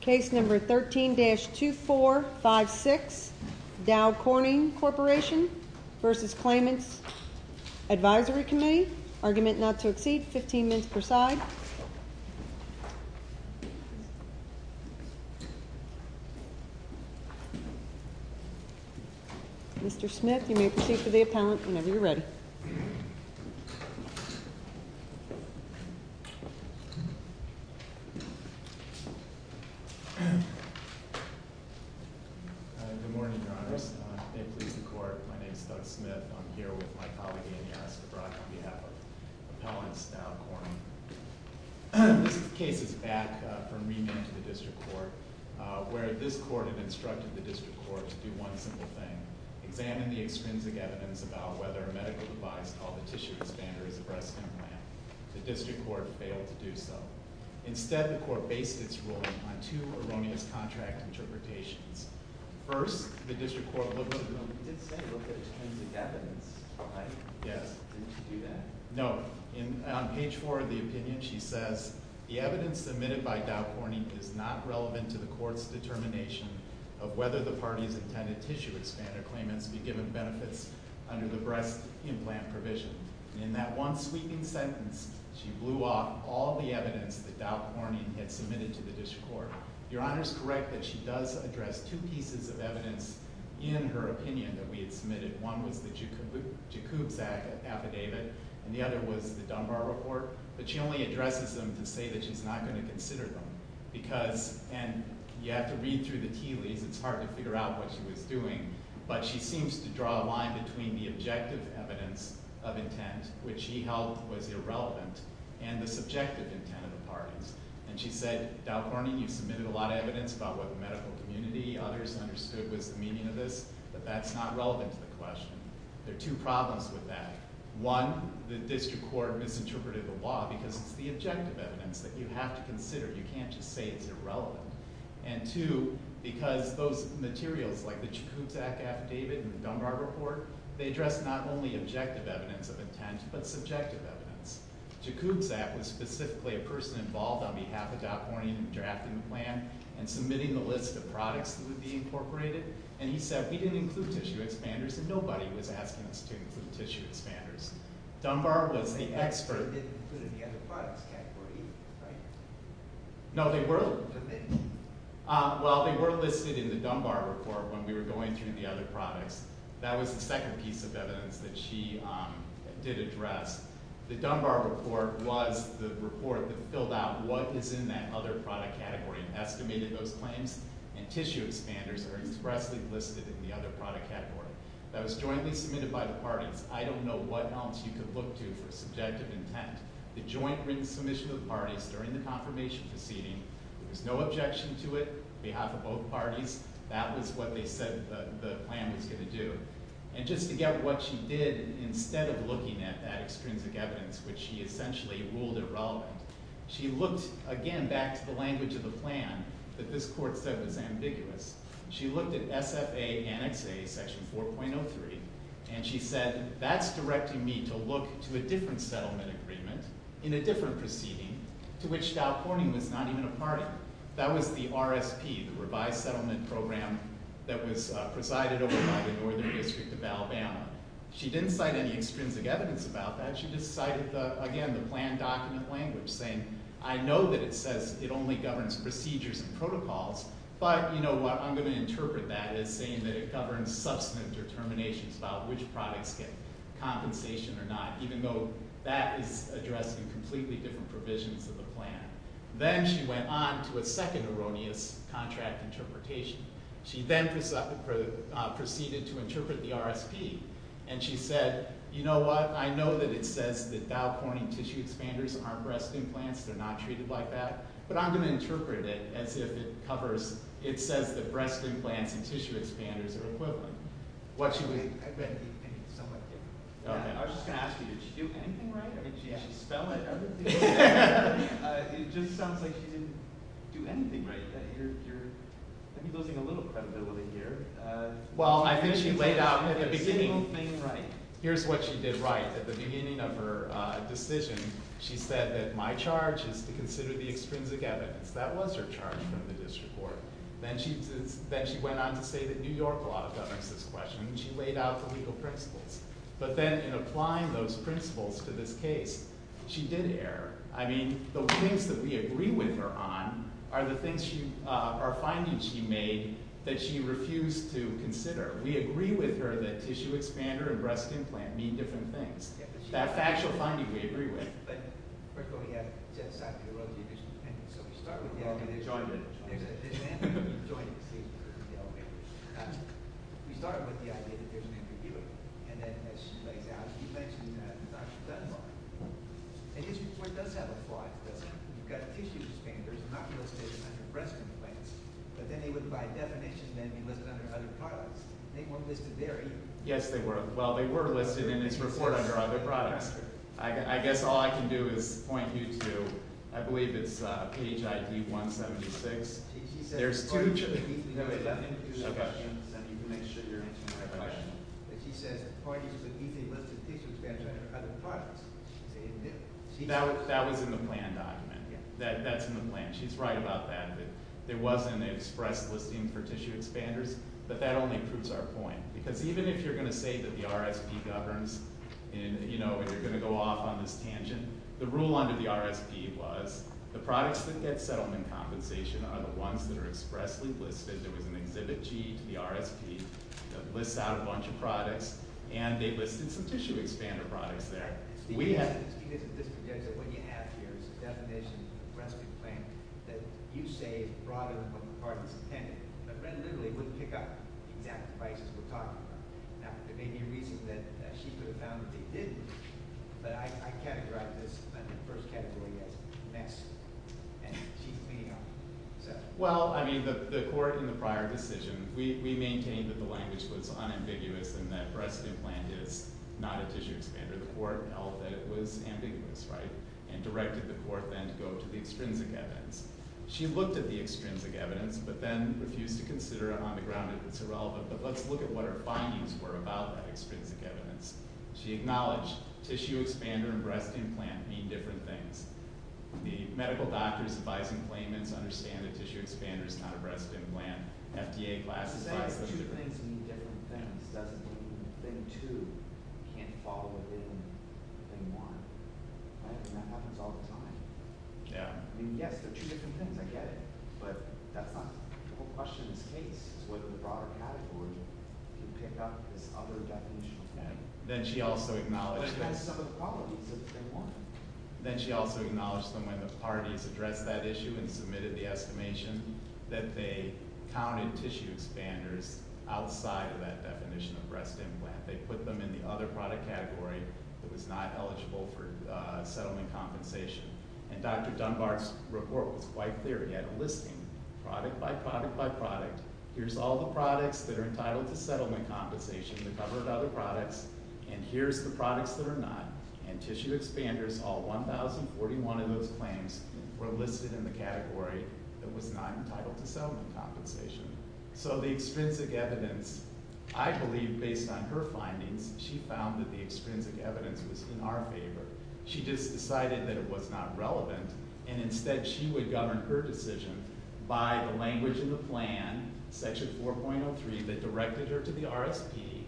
Case number 13-2456 Dow Corning Corporation vs. Claimant's Advisory Committee, argument not to exceed 15 minutes per side. Mr. Smith, you may proceed for the appellant whenever you're ready. Good morning, Your Honors. May it please the Court, my name is Doug Smith. I'm here with my colleague, Anya Esker-Brock, on behalf of Appellant Dow Corning. This case is back from remand to the District Court, where this Court had instructed the District Court to do one simple thing, examine the extrinsic evidence about whether a medical device called a tissue expander is a breast implant. The District Court failed to do so. Instead, the Court based its ruling on two erroneous contract interpretations. First, the District Court looked at the extrinsic evidence. Did she do that? No. On page 4 of the opinion, she says, The evidence submitted by Dow Corning is not relevant to the Court's determination of whether the party's intended tissue expander claimants be given benefits under the breast implant provision. In that one sweeping sentence, she blew off all the evidence that Dow Corning had submitted to the District Court. Your Honor is correct that she does address two pieces of evidence in her opinion that we had submitted. One was the Jakubczak affidavit, and the other was the Dunbar report, but she only addresses them to say that she's not going to consider them, because, and you have to read through the tea leaves, it's hard to figure out what she was doing, but she seems to draw a line between the objective evidence of intent, which she held was irrelevant, and the subjective intent of the parties. And she said, Dow Corning, you submitted a lot of evidence about what the medical community, others understood was the meaning of this, but that's not relevant to the question. There are two problems with that. One, the District Court misinterpreted the law because it's the objective evidence that you have to consider. You can't just say it's irrelevant. And two, because those materials, like the Jakubczak affidavit and the Dunbar report, they address not only objective evidence of intent, but subjective evidence. Jakubczak was specifically a person involved on behalf of Dow Corning in drafting the plan and submitting the list of products that would be incorporated, and he said we didn't include tissue expanders, and nobody was asking us to include tissue expanders. Dunbar was the expert. No, they were. Well, they were listed in the Dunbar report when we were going through the other products. That was the second piece of evidence that she did address. The Dunbar report was the report that filled out what is in that other product category and estimated those claims, and tissue expanders are expressly listed in the other product category. That was jointly submitted by the parties. I don't know what else you could look to for subjective intent. The joint written submission of the parties during the confirmation proceeding, there was no objection to it on behalf of both parties. That was what they said the plan was going to do. And just to get what she did instead of looking at that extrinsic evidence, which she essentially ruled irrelevant, she looked again back to the language of the plan that this court said was ambiguous. She looked at SFA Annex A, Section 4.03, and she said that's directing me to look to a different settlement agreement in a different proceeding to which Dow Corning was not even a party. That was the RSP, the revised settlement program that was presided over by the Northern District of Alabama. She didn't cite any extrinsic evidence about that. She just cited, again, the plan document language, saying I know that it says it only governs procedures and protocols, but I'm going to interpret that as saying that it governs substantive determinations about which products get compensation or not, even though that is addressed in completely different provisions of the plan. Then she went on to a second erroneous contract interpretation. She then proceeded to interpret the RSP, and she said, you know what, I know that it says that Dow Corning tissue expanders aren't breast implants, they're not treated like that, but I'm going to interpret it as if it covers, it says that breast implants and tissue expanders are equivalent. I was just going to ask you, did she do anything right? I mean, she spelled out everything. It just sounds like she didn't do anything right. You're losing a little credibility here. Well, I think she laid out at the beginning, here's what she did right. At the beginning of her decision, she said that my charge is to consider the extrinsic evidence. That was her charge from the district court. Then she went on to say that New York law governs this question, and she laid out the legal principles. But then in applying those principles to this case, she did err. I mean, the things that we agree with her on are the findings she made that she refused to consider. We agree with her that tissue expander and breast implant mean different things. That factual finding we agree with. But first of all, we have Jeff Sackler, who wrote the additional opinion. So we start with the idea that there's an additional opinion. There's an additional opinion. You've joined this case. We started with the idea that there's an interviewer. And then as she lays out, you mentioned Dr. Dunbar. And his report does have a flaw. You've got a tissue expander. It's not going to stay under breast implants. But then they would, by definition, then be listed under other products. They weren't listed there either. Yes, they were. Well, they were listed in his report under other products. I guess all I can do is point you to, I believe it's page ID 176. There's two chips. No, there's nothing. You can make sure you're answering my question. But she says the point is that these are listed tissue expanders under other products. That was in the plan document. That's in the plan. She's right about that. There was an express listing for tissue expanders. But that only proves our point. Because even if you're going to say that the RSP governs, and you're going to go off on this tangent, the rule under the RSP was the products that get settlement compensation are the ones that are expressly listed. There was an exhibit G to the RSP that lists out a bunch of products. And they listed some tissue expander products there. Steve, isn't this the idea? What you have here is a definition of breast implant that you say is brought in from the department's intended. But then, literally, it wouldn't pick up the exact devices we're talking about. Now, there may be a reason that she could have found that they didn't. But I categorized this in the first category as a mess. And she's cleaning up. Well, I mean, the court in the prior decision, we maintained that the language was unambiguous and that breast implant is not a tissue expander. The court held that it was ambiguous, right, and directed the court then to go to the extrinsic evidence. She looked at the extrinsic evidence but then refused to consider it on the ground if it's irrelevant. But let's look at what her findings were about that extrinsic evidence. She acknowledged tissue expander and breast implant mean different things. The medical doctors advising claimants understand a tissue expander is not a breast implant. FDA classifies them differently. Does that mean two things mean different things? Does it mean thing two can't fall within thing one? Right? And that happens all the time. Yeah. I mean, yes, they're two different things. I get it. But that's not the whole question in this case is whether the broader category can pick up this other definition. Then she also acknowledged that when the parties addressed that issue and submitted the estimation that they counted tissue expanders outside of that definition of breast implant. They put them in the other product category that was not eligible for settlement compensation. And Dr. Dunbar's report was quite clear. He had a listing, product by product by product. Here's all the products that are entitled to settlement compensation that covered other products, and here's the products that are not. And tissue expanders, all 1,041 of those claims, were listed in the category that was not entitled to settlement compensation. So the extrinsic evidence, I believe, based on her findings, she found that the extrinsic evidence was in our favor. She just decided that it was not relevant, and instead she would govern her decision by the language in the plan, section 4.03, that directed her to the RSP,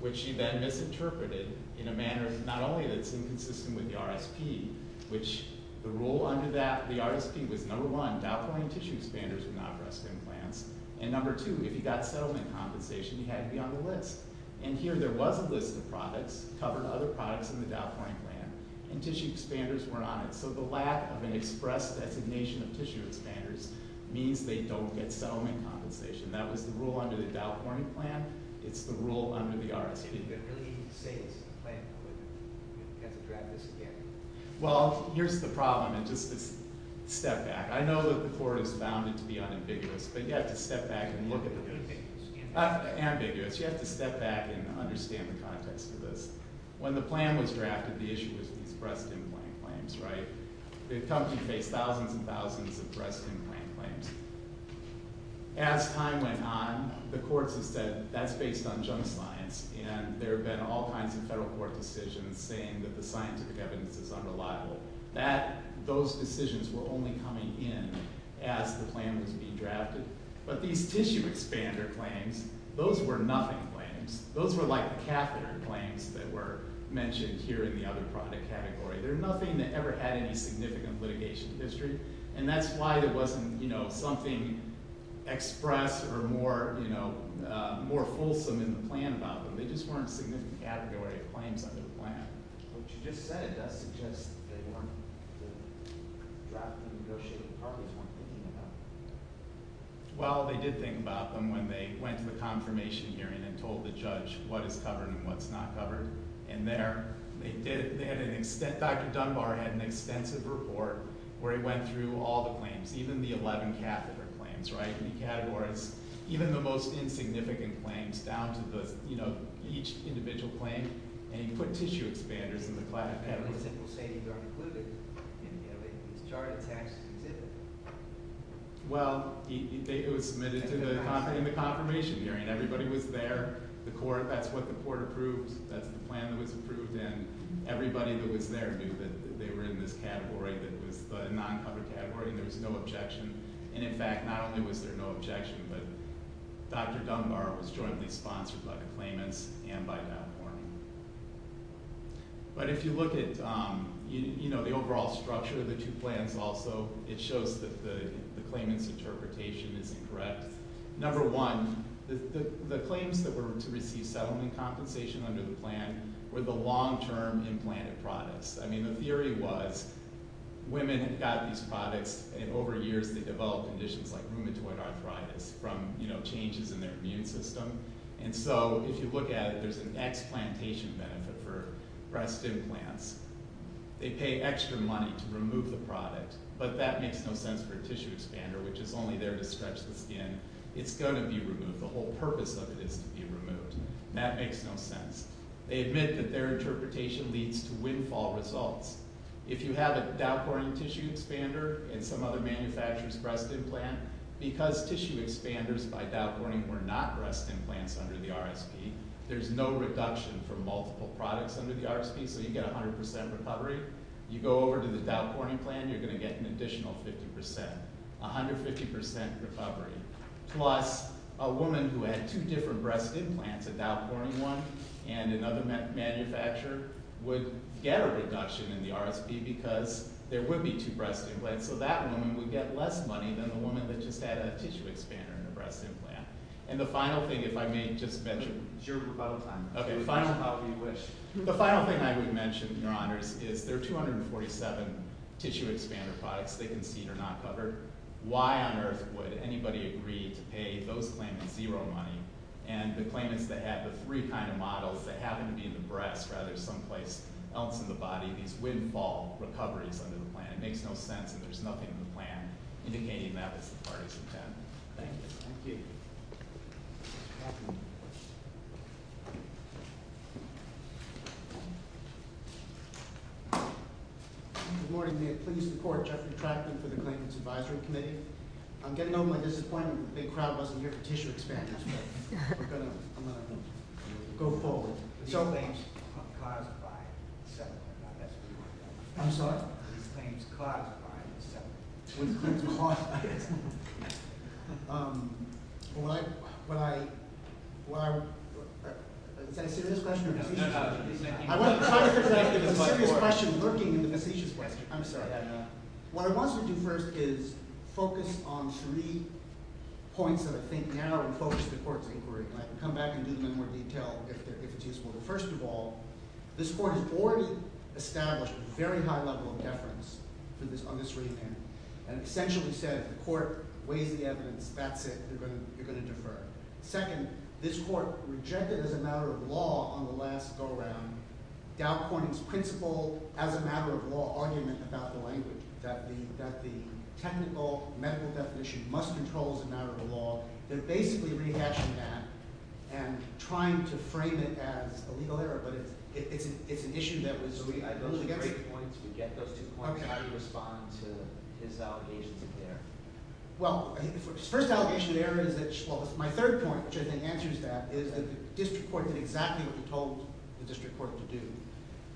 which she then misinterpreted in a manner not only that's inconsistent with the RSP, which the rule under the RSP was, number one, dopamine tissue expanders were not breast implants, and number two, if you got settlement compensation, you had to be on the list. And here there was a list of products, covered other products in the Dow Corning plan, and tissue expanders weren't on it. So the lack of an express designation of tissue expanders means they don't get settlement compensation. That was the rule under the Dow Corning plan. It's the rule under the RSP. Well, here's the problem, and just a step back. I know that the court has found it to be unambiguous, but you have to step back and look at this. Ambiguous. You have to step back and understand the context of this. When the plan was drafted, the issue was these breast implant claims, right? The company faced thousands and thousands of breast implant claims. As time went on, the courts have said that's based on junk science, and there have been all kinds of federal court decisions saying that the scientific evidence is unreliable. Those decisions were only coming in as the plan was being drafted. But these tissue expander claims, those were nothing claims. Those were like catheter claims that were mentioned here in the other product category. They're nothing that ever had any significant litigation history, and that's why there wasn't something express or more fulsome in the plan about them. They just weren't a significant category of claims under the plan. But what you just said, it does suggest that the drafting and negotiating parties weren't thinking about them. Well, they did think about them when they went to the confirmation hearing and told the judge what is covered and what's not covered. And there, they did... Dr. Dunbar had an extensive report where he went through all the claims, even the 11 catheter claims, right? He categorized even the most insignificant claims down to, you know, each individual claim, and he put tissue expanders in the class... Well, it was submitted in the confirmation hearing. Everybody was there. The court, that's what the court approved. That's the plan that was approved, and everybody that was there knew that they were in this category that was the non-cover category, and there was no objection. And in fact, not only was there no objection, but Dr. Dunbar was jointly sponsored by the claimants and by that court. But if you look at, you know, the overall structure of the two plans also, it shows that the claimant's interpretation is incorrect. Number one, the claims that were to receive settlement compensation under the plan were the long-term implanted products. I mean, the theory was women had got these products, and over years, they developed conditions like rheumatoid arthritis from, you know, changes in their immune system. And so if you look at it, there's an explantation benefit for breast implants. They pay extra money to remove the product, but that makes no sense for a tissue expander, which is only there to stretch the skin. It's going to be removed. The whole purpose of it is to be removed. That makes no sense. They admit that their interpretation leads to windfall results. If you have a Dow Corning tissue expander and some other manufacturer's breast implant, because tissue expanders by Dow Corning were not breast implants under the RSP, there's no reduction for multiple products under the RSP, so you get 100% recovery. You go over to the Dow Corning plan, you're going to get an additional 50%, 150% recovery, plus a woman who had two different breast implants, a Dow Corning one and another manufacturer, would get a reduction in the RSP because there would be two breast implants. So that woman would get less money than the woman that just had a tissue expander and a breast implant. And the final thing, if I may just mention... It's your rebuttal time. The final thing I would mention, Your Honors, is there are 247 tissue expander products they concede are not covered. Why on earth would anybody agree to pay those claimants zero money and the claimants that have the three kind of models that happen to be in the breast rather than someplace else in the body these windfall recoveries under the plan? And it makes no sense that there's nothing in the plan indicating that that's the parties' intent. Thank you. Thank you. Good morning. May it please the Court, Jeffrey Trackman for the Claimants Advisory Committee. I'm getting over my disappointment that the big crowd wasn't here for tissue expanders, but I'm going to go forward. These claims are caused by several... I'm sorry? These claims are caused by several... These claims are caused by several... Is that a serious question or a facetious question? It's a serious question lurking in the facetious question. I'm sorry. What I want us to do first is focus on three points that I think narrow and focus the Court's inquiry on. I can come back and do them in more detail if it's useful. But first of all, this Court has already established a very high level of deference on this remand and essentially said if the Court weighs the evidence, that's it, you're going to defer. Second, this Court rejected as a matter of law on the last go-around Dow Corning's principle as a matter of law argument about the language, that the technical medical definition must control as a matter of law. They're basically rehashing that and trying to frame it as a legal error, but it's an issue that was... Those are great points. We get those two points. How do you respond to his allegations of error? Well, his first allegation of error is that... Well, my third point, which I think answers that, is the District Court did exactly what you told the District Court to do.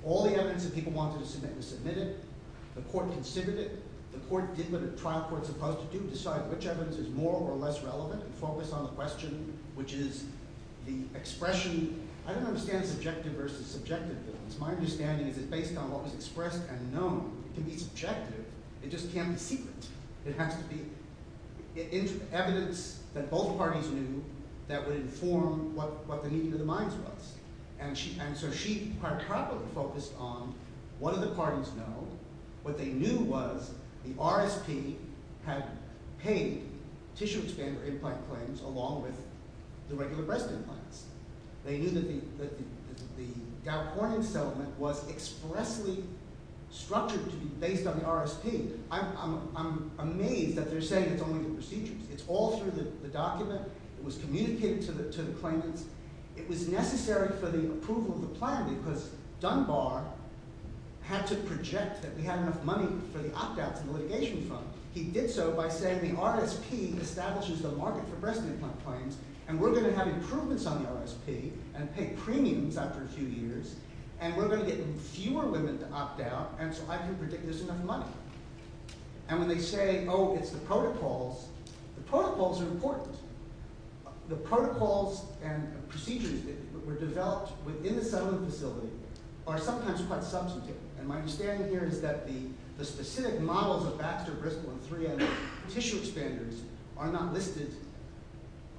All the evidence that people wanted to submit was submitted. The Court considered it. The Court did what a trial court is supposed to do, decide which evidence is more or less relevant, and focus on the question, which is the expression... I don't understand subjective versus subjective evidence. My understanding is that based on what was expressed and known, it can be subjective, it just can't be secret. It has to be evidence that both parties knew that would inform what the meaning of the minds was. And so she hierarchically focused on what do the parties know? What they knew was the RSP had paid tissue-expander implant claims along with the regular breast implants. They knew that the Dow Corning settlement was expressly structured to be based on the RSP. I'm amazed that they're saying it's only the procedures. It's all through the document. It was communicated to the claimants. It was necessary for the approval of the plan because Dunbar had to project that we had enough money for the opt-outs and the litigation fund. He did so by saying the RSP establishes the market for breast implant claims, and we're going to have improvements on the RSP and pay premiums after a few years, and we're going to get fewer women to opt out, and so I can predict there's enough money. And when they say, oh, it's the protocols, the protocols are important. The protocols and procedures that were developed within the settlement facility are sometimes quite substantive, and my understanding here is that the specific models of Baxter, Bristol, and 3M tissue expanders are not listed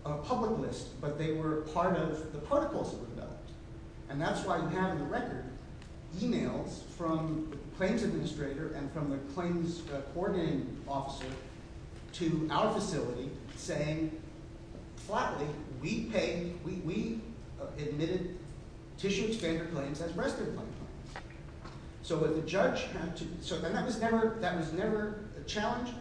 on a public list, but they were part of the protocols that were developed, and that's why you have in the record e-mails from the claims administrator and from the claims coordinating officer to our facility saying flatly, we paid, we admitted tissue expander claims as breast implant claims. So what the judge had to... And that was never a challenge.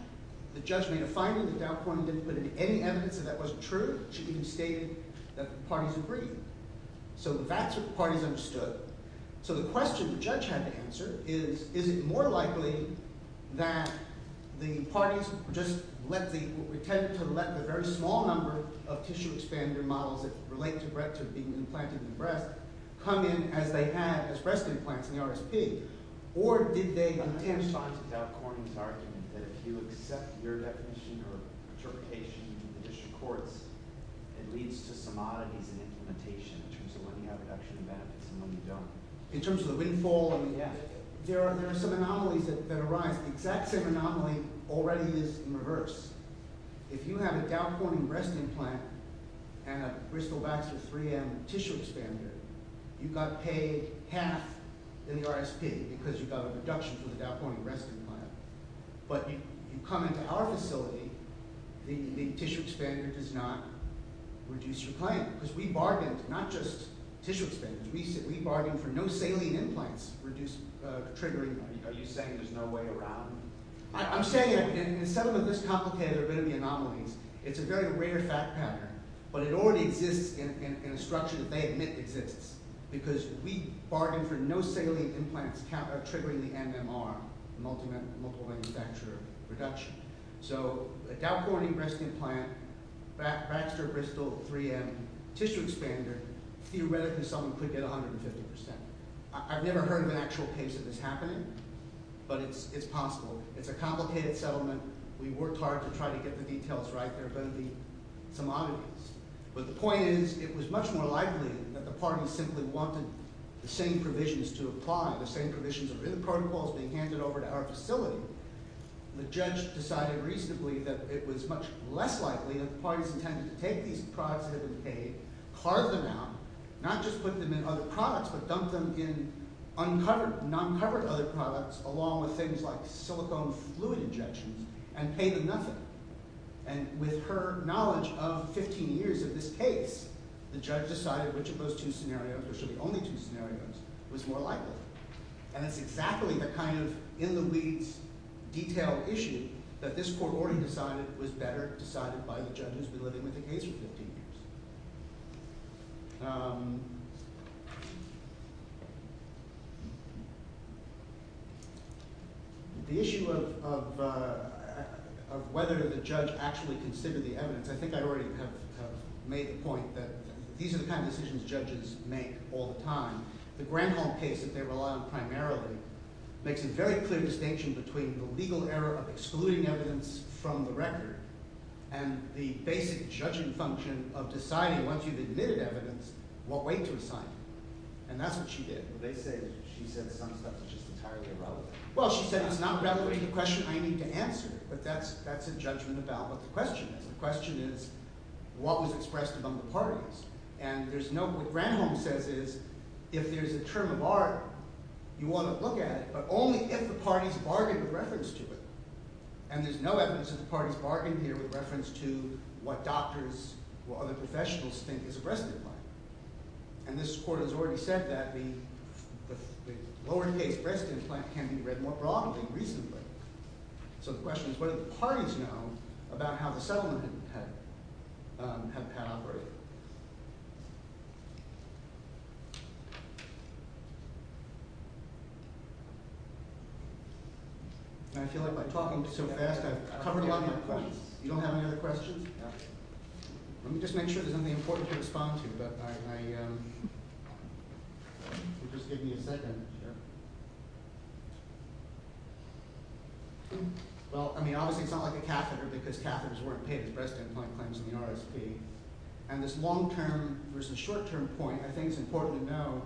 The judge made a finding that Dow Corning didn't put any evidence that that wasn't true. She even stated that the parties agreed. So that's what the parties understood. So the question the judge had to answer is, is it more likely that the parties just let the... intended to let the very small number of tissue expander models that relate to being implanted in the breast come in as they had as breast implants in the RSP, or did they... In response to Dow Corning's argument that if you accept your definition or interpretation in the district courts, it leads to some oddities in implementation in terms of when you have reduction in benefits and when you don't. In terms of the windfall and the... There are some anomalies that arise. The exact same anomaly already is in reverse. If you have a Dow Corning breast implant and a Bristol-Baxter 3M tissue expander, you got paid half in the RSP because you got a reduction for the Dow Corning breast implant. But you come into our facility, the tissue expander does not reduce your claim. Because we bargained, not just tissue expander. We bargained for no saline implants triggering... Are you saying there's no way around...? I'm saying, in some of the most complicated of the anomalies, it's a very rare fact pattern, but it already exists in a structure that they admit exists. Because we bargained for no saline implants triggering the MMR, multiple manufacturer reduction. So a Dow Corning breast implant, Baxter-Bristol 3M tissue expander, theoretically someone could get 150%. I've never heard of an actual case of this happening, but it's possible. It's a complicated settlement. We worked hard to try to get the details right. But the point is, it was much more likely that the parties simply wanted the same provisions to apply, the same provisions that were in the protocols being handed over to our facility. The judge decided reasonably that it was much less likely that the parties intended to take these products that had been paid, carve them out, not just put them in other products, but dump them in uncovered, non-covered other products, along with things like silicone fluid injections, and pay them nothing. And with her knowledge of 15 years of this case, the judge decided which of those two scenarios, or should be only two scenarios, was more likely. And it's exactly the kind of in-the-weeds, detailed issue that this court already decided was better decided by the judge who's been living with the case for 15 years. The issue of whether the judge actually considered the evidence, I think I already have made the point that these are the kind of decisions judges make all the time. The Granholm case that they rely on primarily makes a very clear distinction between the legal error of excluding evidence from the record and the basic judging function of deciding, once you've admitted evidence, what way to assign it. And that's what she did. They say she said some stuff that's just entirely irrelevant. Well, she said it's not relevant to the question I need to answer, but that's a judgment about what the question is. The question is, what was expressed among the parties? And what Granholm says is, if there's a term of art, you want to look at it, but only if the parties bargained with reference to it. And there's no evidence that the parties bargained here with reference to what doctors or other professionals think is a breast implant. And this court has already said that the lower-case breast implant can be read more broadly, reasonably. So the question is, what do the parties know about how the settlement had pan-operated? I feel like by talking so fast, I've covered a lot of my points. You don't have any other questions? Let me just make sure there's nothing important to respond to, but just give me a second here. Well, I mean, obviously it's not like a catheter, because catheters weren't paid as breast implant claims in the RSP. And this long-term versus short-term point, I think it's important to know,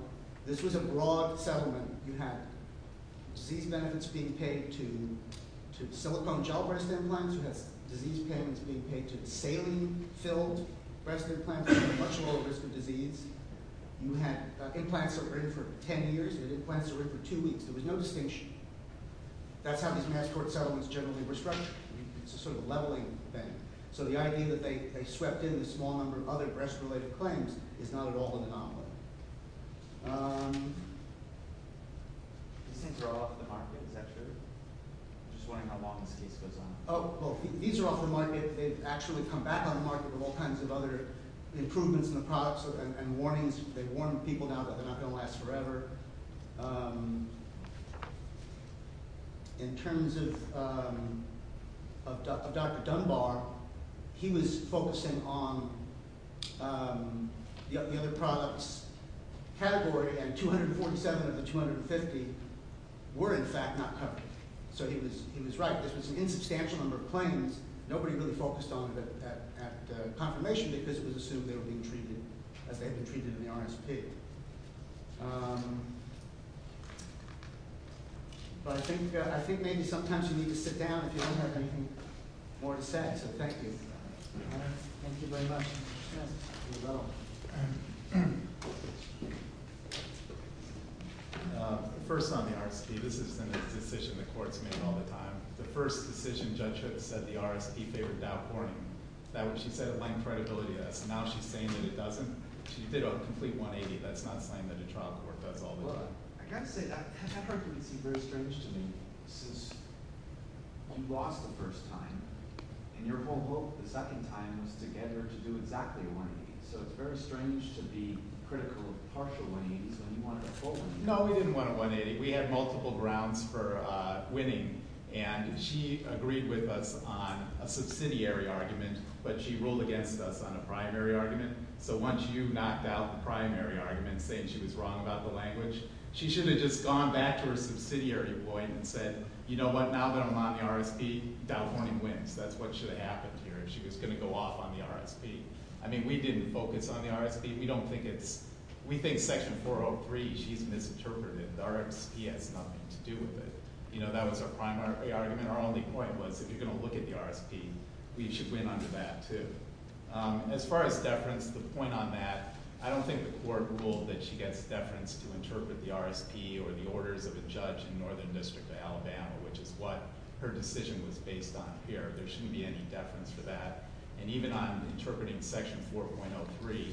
this was a broad settlement. You had disease benefits being paid to silicone gel breast implants. You had disease payments being paid to saline-filled breast implants. You had a much lower risk of disease. You had implants that were in for ten years, and implants that were in for two weeks. There was no distinction. That's how these mass court settlements generally were structured. It's a sort of leveling thing. So the idea that they swept in a small number of other breast-related claims is not at all an anomaly. These things are off the market, is that true? I'm just wondering how long this case goes on. Oh, well, these are off the market. They've actually come back on the market with all kinds of other improvements in the products and warnings. They've warned people now that they're not going to last forever. In terms of Dr. Dunbar, he was focusing on the other products category, and 247 of the 250 were, in fact, not covered. So he was right. This was an insubstantial number of claims. Nobody really focused on it at confirmation because it was assumed they were being treated as they had been treated in the RSP. But I think maybe sometimes you need to sit down if you don't have anything more to say. So thank you. Thank you very much. First on the RSP, this has been a decision the courts make all the time. The first decision Judge Hooks said the RSP favored Dow Porning. She said it lengthened credibility to us. Now she's saying that it doesn't. She did a complete 180. That's not something that a trial court does all the time. No, we didn't want a 180. We had multiple grounds for winning, and she agreed with us on a subsidiary argument, but she ruled against us on a primary argument. So once you knocked out the primary argument saying she was wrong about the language, she should have just gone back to her subsidiary point and said, you know what, now that I'm on the RSP, Dow Porning wins. That's what should have happened here if she was going to go off on the RSP. I mean, we didn't focus on the RSP. We think Section 403, she's misinterpreted. The RSP has nothing to do with it. That was our primary argument. Our only point was if you're going to look at the RSP, we should win under that, too. As far as deference, the point on that, I don't think the court ruled that she gets deference to interpret the RSP or the orders of a judge in Northern District of Alabama, which is what her decision was based on here. There shouldn't be any deference for that. And even on interpreting Section 4.03,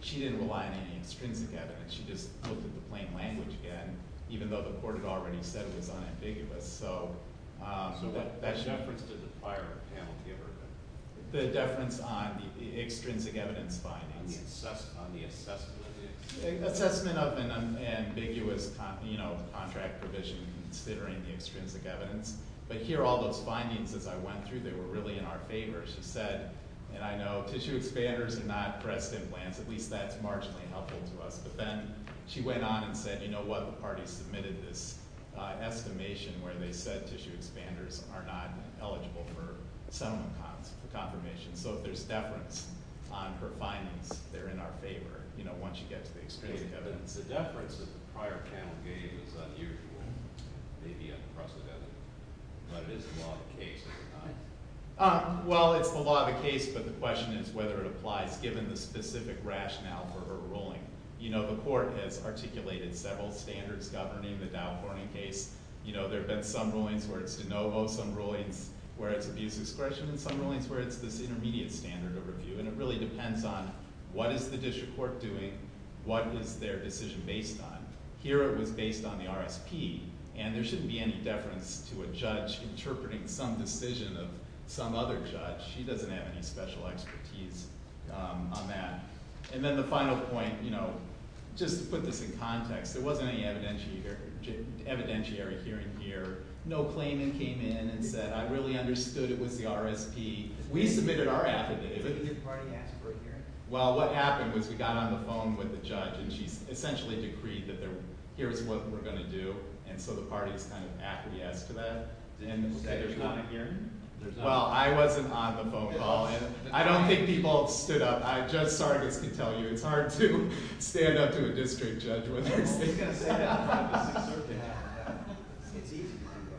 she didn't rely on any extrinsic evidence. She just looked at the plain language again, even though the court had already said it was unambiguous. So... So what deference did the prior penalty of her get? The deference on the extrinsic evidence findings. On the assessment of the extrinsic evidence. Assessment of an ambiguous contract provision considering the extrinsic evidence. But here, all those findings, as I went through, they were really in our favor. She said, and I know tissue expanders and not breast implants, at least that's marginally helpful to us. But then she went on and said, you know what, the party submitted this estimation where they said tissue expanders are not eligible for settlement confirmation. So if there's deference on her findings, they're in our favor. You know, once you get to the extrinsic evidence. The deference that the prior panel gave is unusual. Maybe unprecedented. But it is the law of the case, is it not? Well, it's the law of the case, but the question is whether it applies given the specific rationale for her ruling. You know, the court has articulated several standards governing the Dow Horning case. You know, there have been some rulings where it's de novo, some rulings where it's abuse discretion, and some rulings where it's this intermediate standard of review. And it really depends on what is the district court doing? What is their decision based on? Here it was based on the RSP. And there shouldn't be any deference to a judge interpreting some decision of some other judge. She doesn't have any special expertise on that. And then the final point, you know, just to put this in context, there wasn't any evidentiary hearing here. No claimant came in and said, I really understood it was the RSP. We submitted our affidavit. Didn't your party ask for a hearing? Well, what happened was we got on the phone with the judge, and she essentially decreed that here's what we're going to do. And so the party is kind of affidavit-esque to that. Did anyone say there's not a hearing? Well, I wasn't on the phone call. I don't think people stood up. But I just, sorry to tell you, it's hard to stand up to a district judge when they're saying that. It's easy.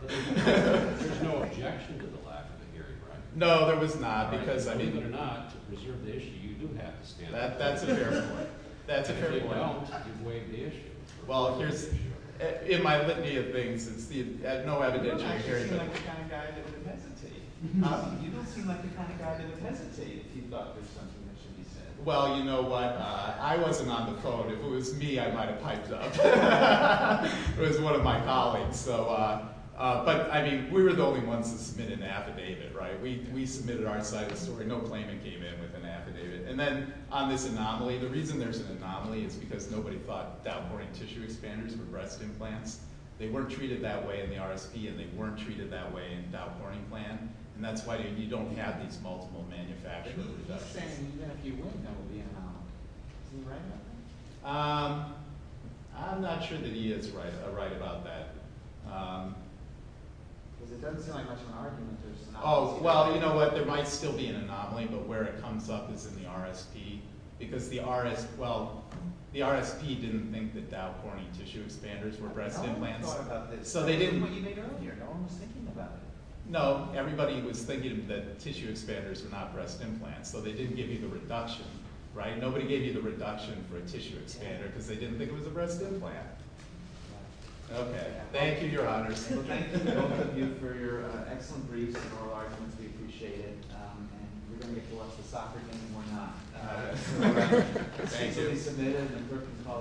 There's no objection to the lack of a hearing, right? No, there was not, because, I mean... Believe it or not, to preserve the issue, you do have to stand up. That's a fair point. If you don't, you've waived the issue. Well, in my litany of things, there's no evidentiary hearing. You don't seem like the kind of guy that would hesitate. Huh? You don't seem like the kind of guy that would hesitate if he thought there's something that should be said. Well, you know what? I wasn't on the phone. If it was me, I might have piped up. It was one of my colleagues. But, I mean, we were the only ones that submitted an affidavit, right? We submitted our side of the story. No claimant came in with an affidavit. And then on this anomaly, the reason there's an anomaly is because nobody thought downpouring tissue expanders were breast implants. They weren't treated that way in the RSP, and they weren't treated that way in the downpouring plan. And that's why you don't have these multiple manufacturer reductions. But he was just saying that even if you wouldn't, that would be an anomaly. Isn't he right about that? I'm not sure that he is right about that. Because it doesn't seem like much of an argument that there's an anomaly. Oh, well, you know what? There might still be an anomaly, but where it comes up is in the RSP. Because the RSP didn't think that downpouring tissue expanders were breast implants. I don't think they thought about this. So they didn't... They didn't think about what you made earlier. No one was thinking about it. No. Everybody was thinking that tissue expanders were not breast implants. So they didn't give you the reduction, right? Nobody gave you the reduction for a tissue expander because they didn't think it was a breast implant. Okay. Thank you, Your Honors. Thank you, both of you, for your excellent briefs and oral arguments. We appreciate it. And we're going to get to watch the soccer game. Why not? All right. Thank you. It's to be submitted in a group called...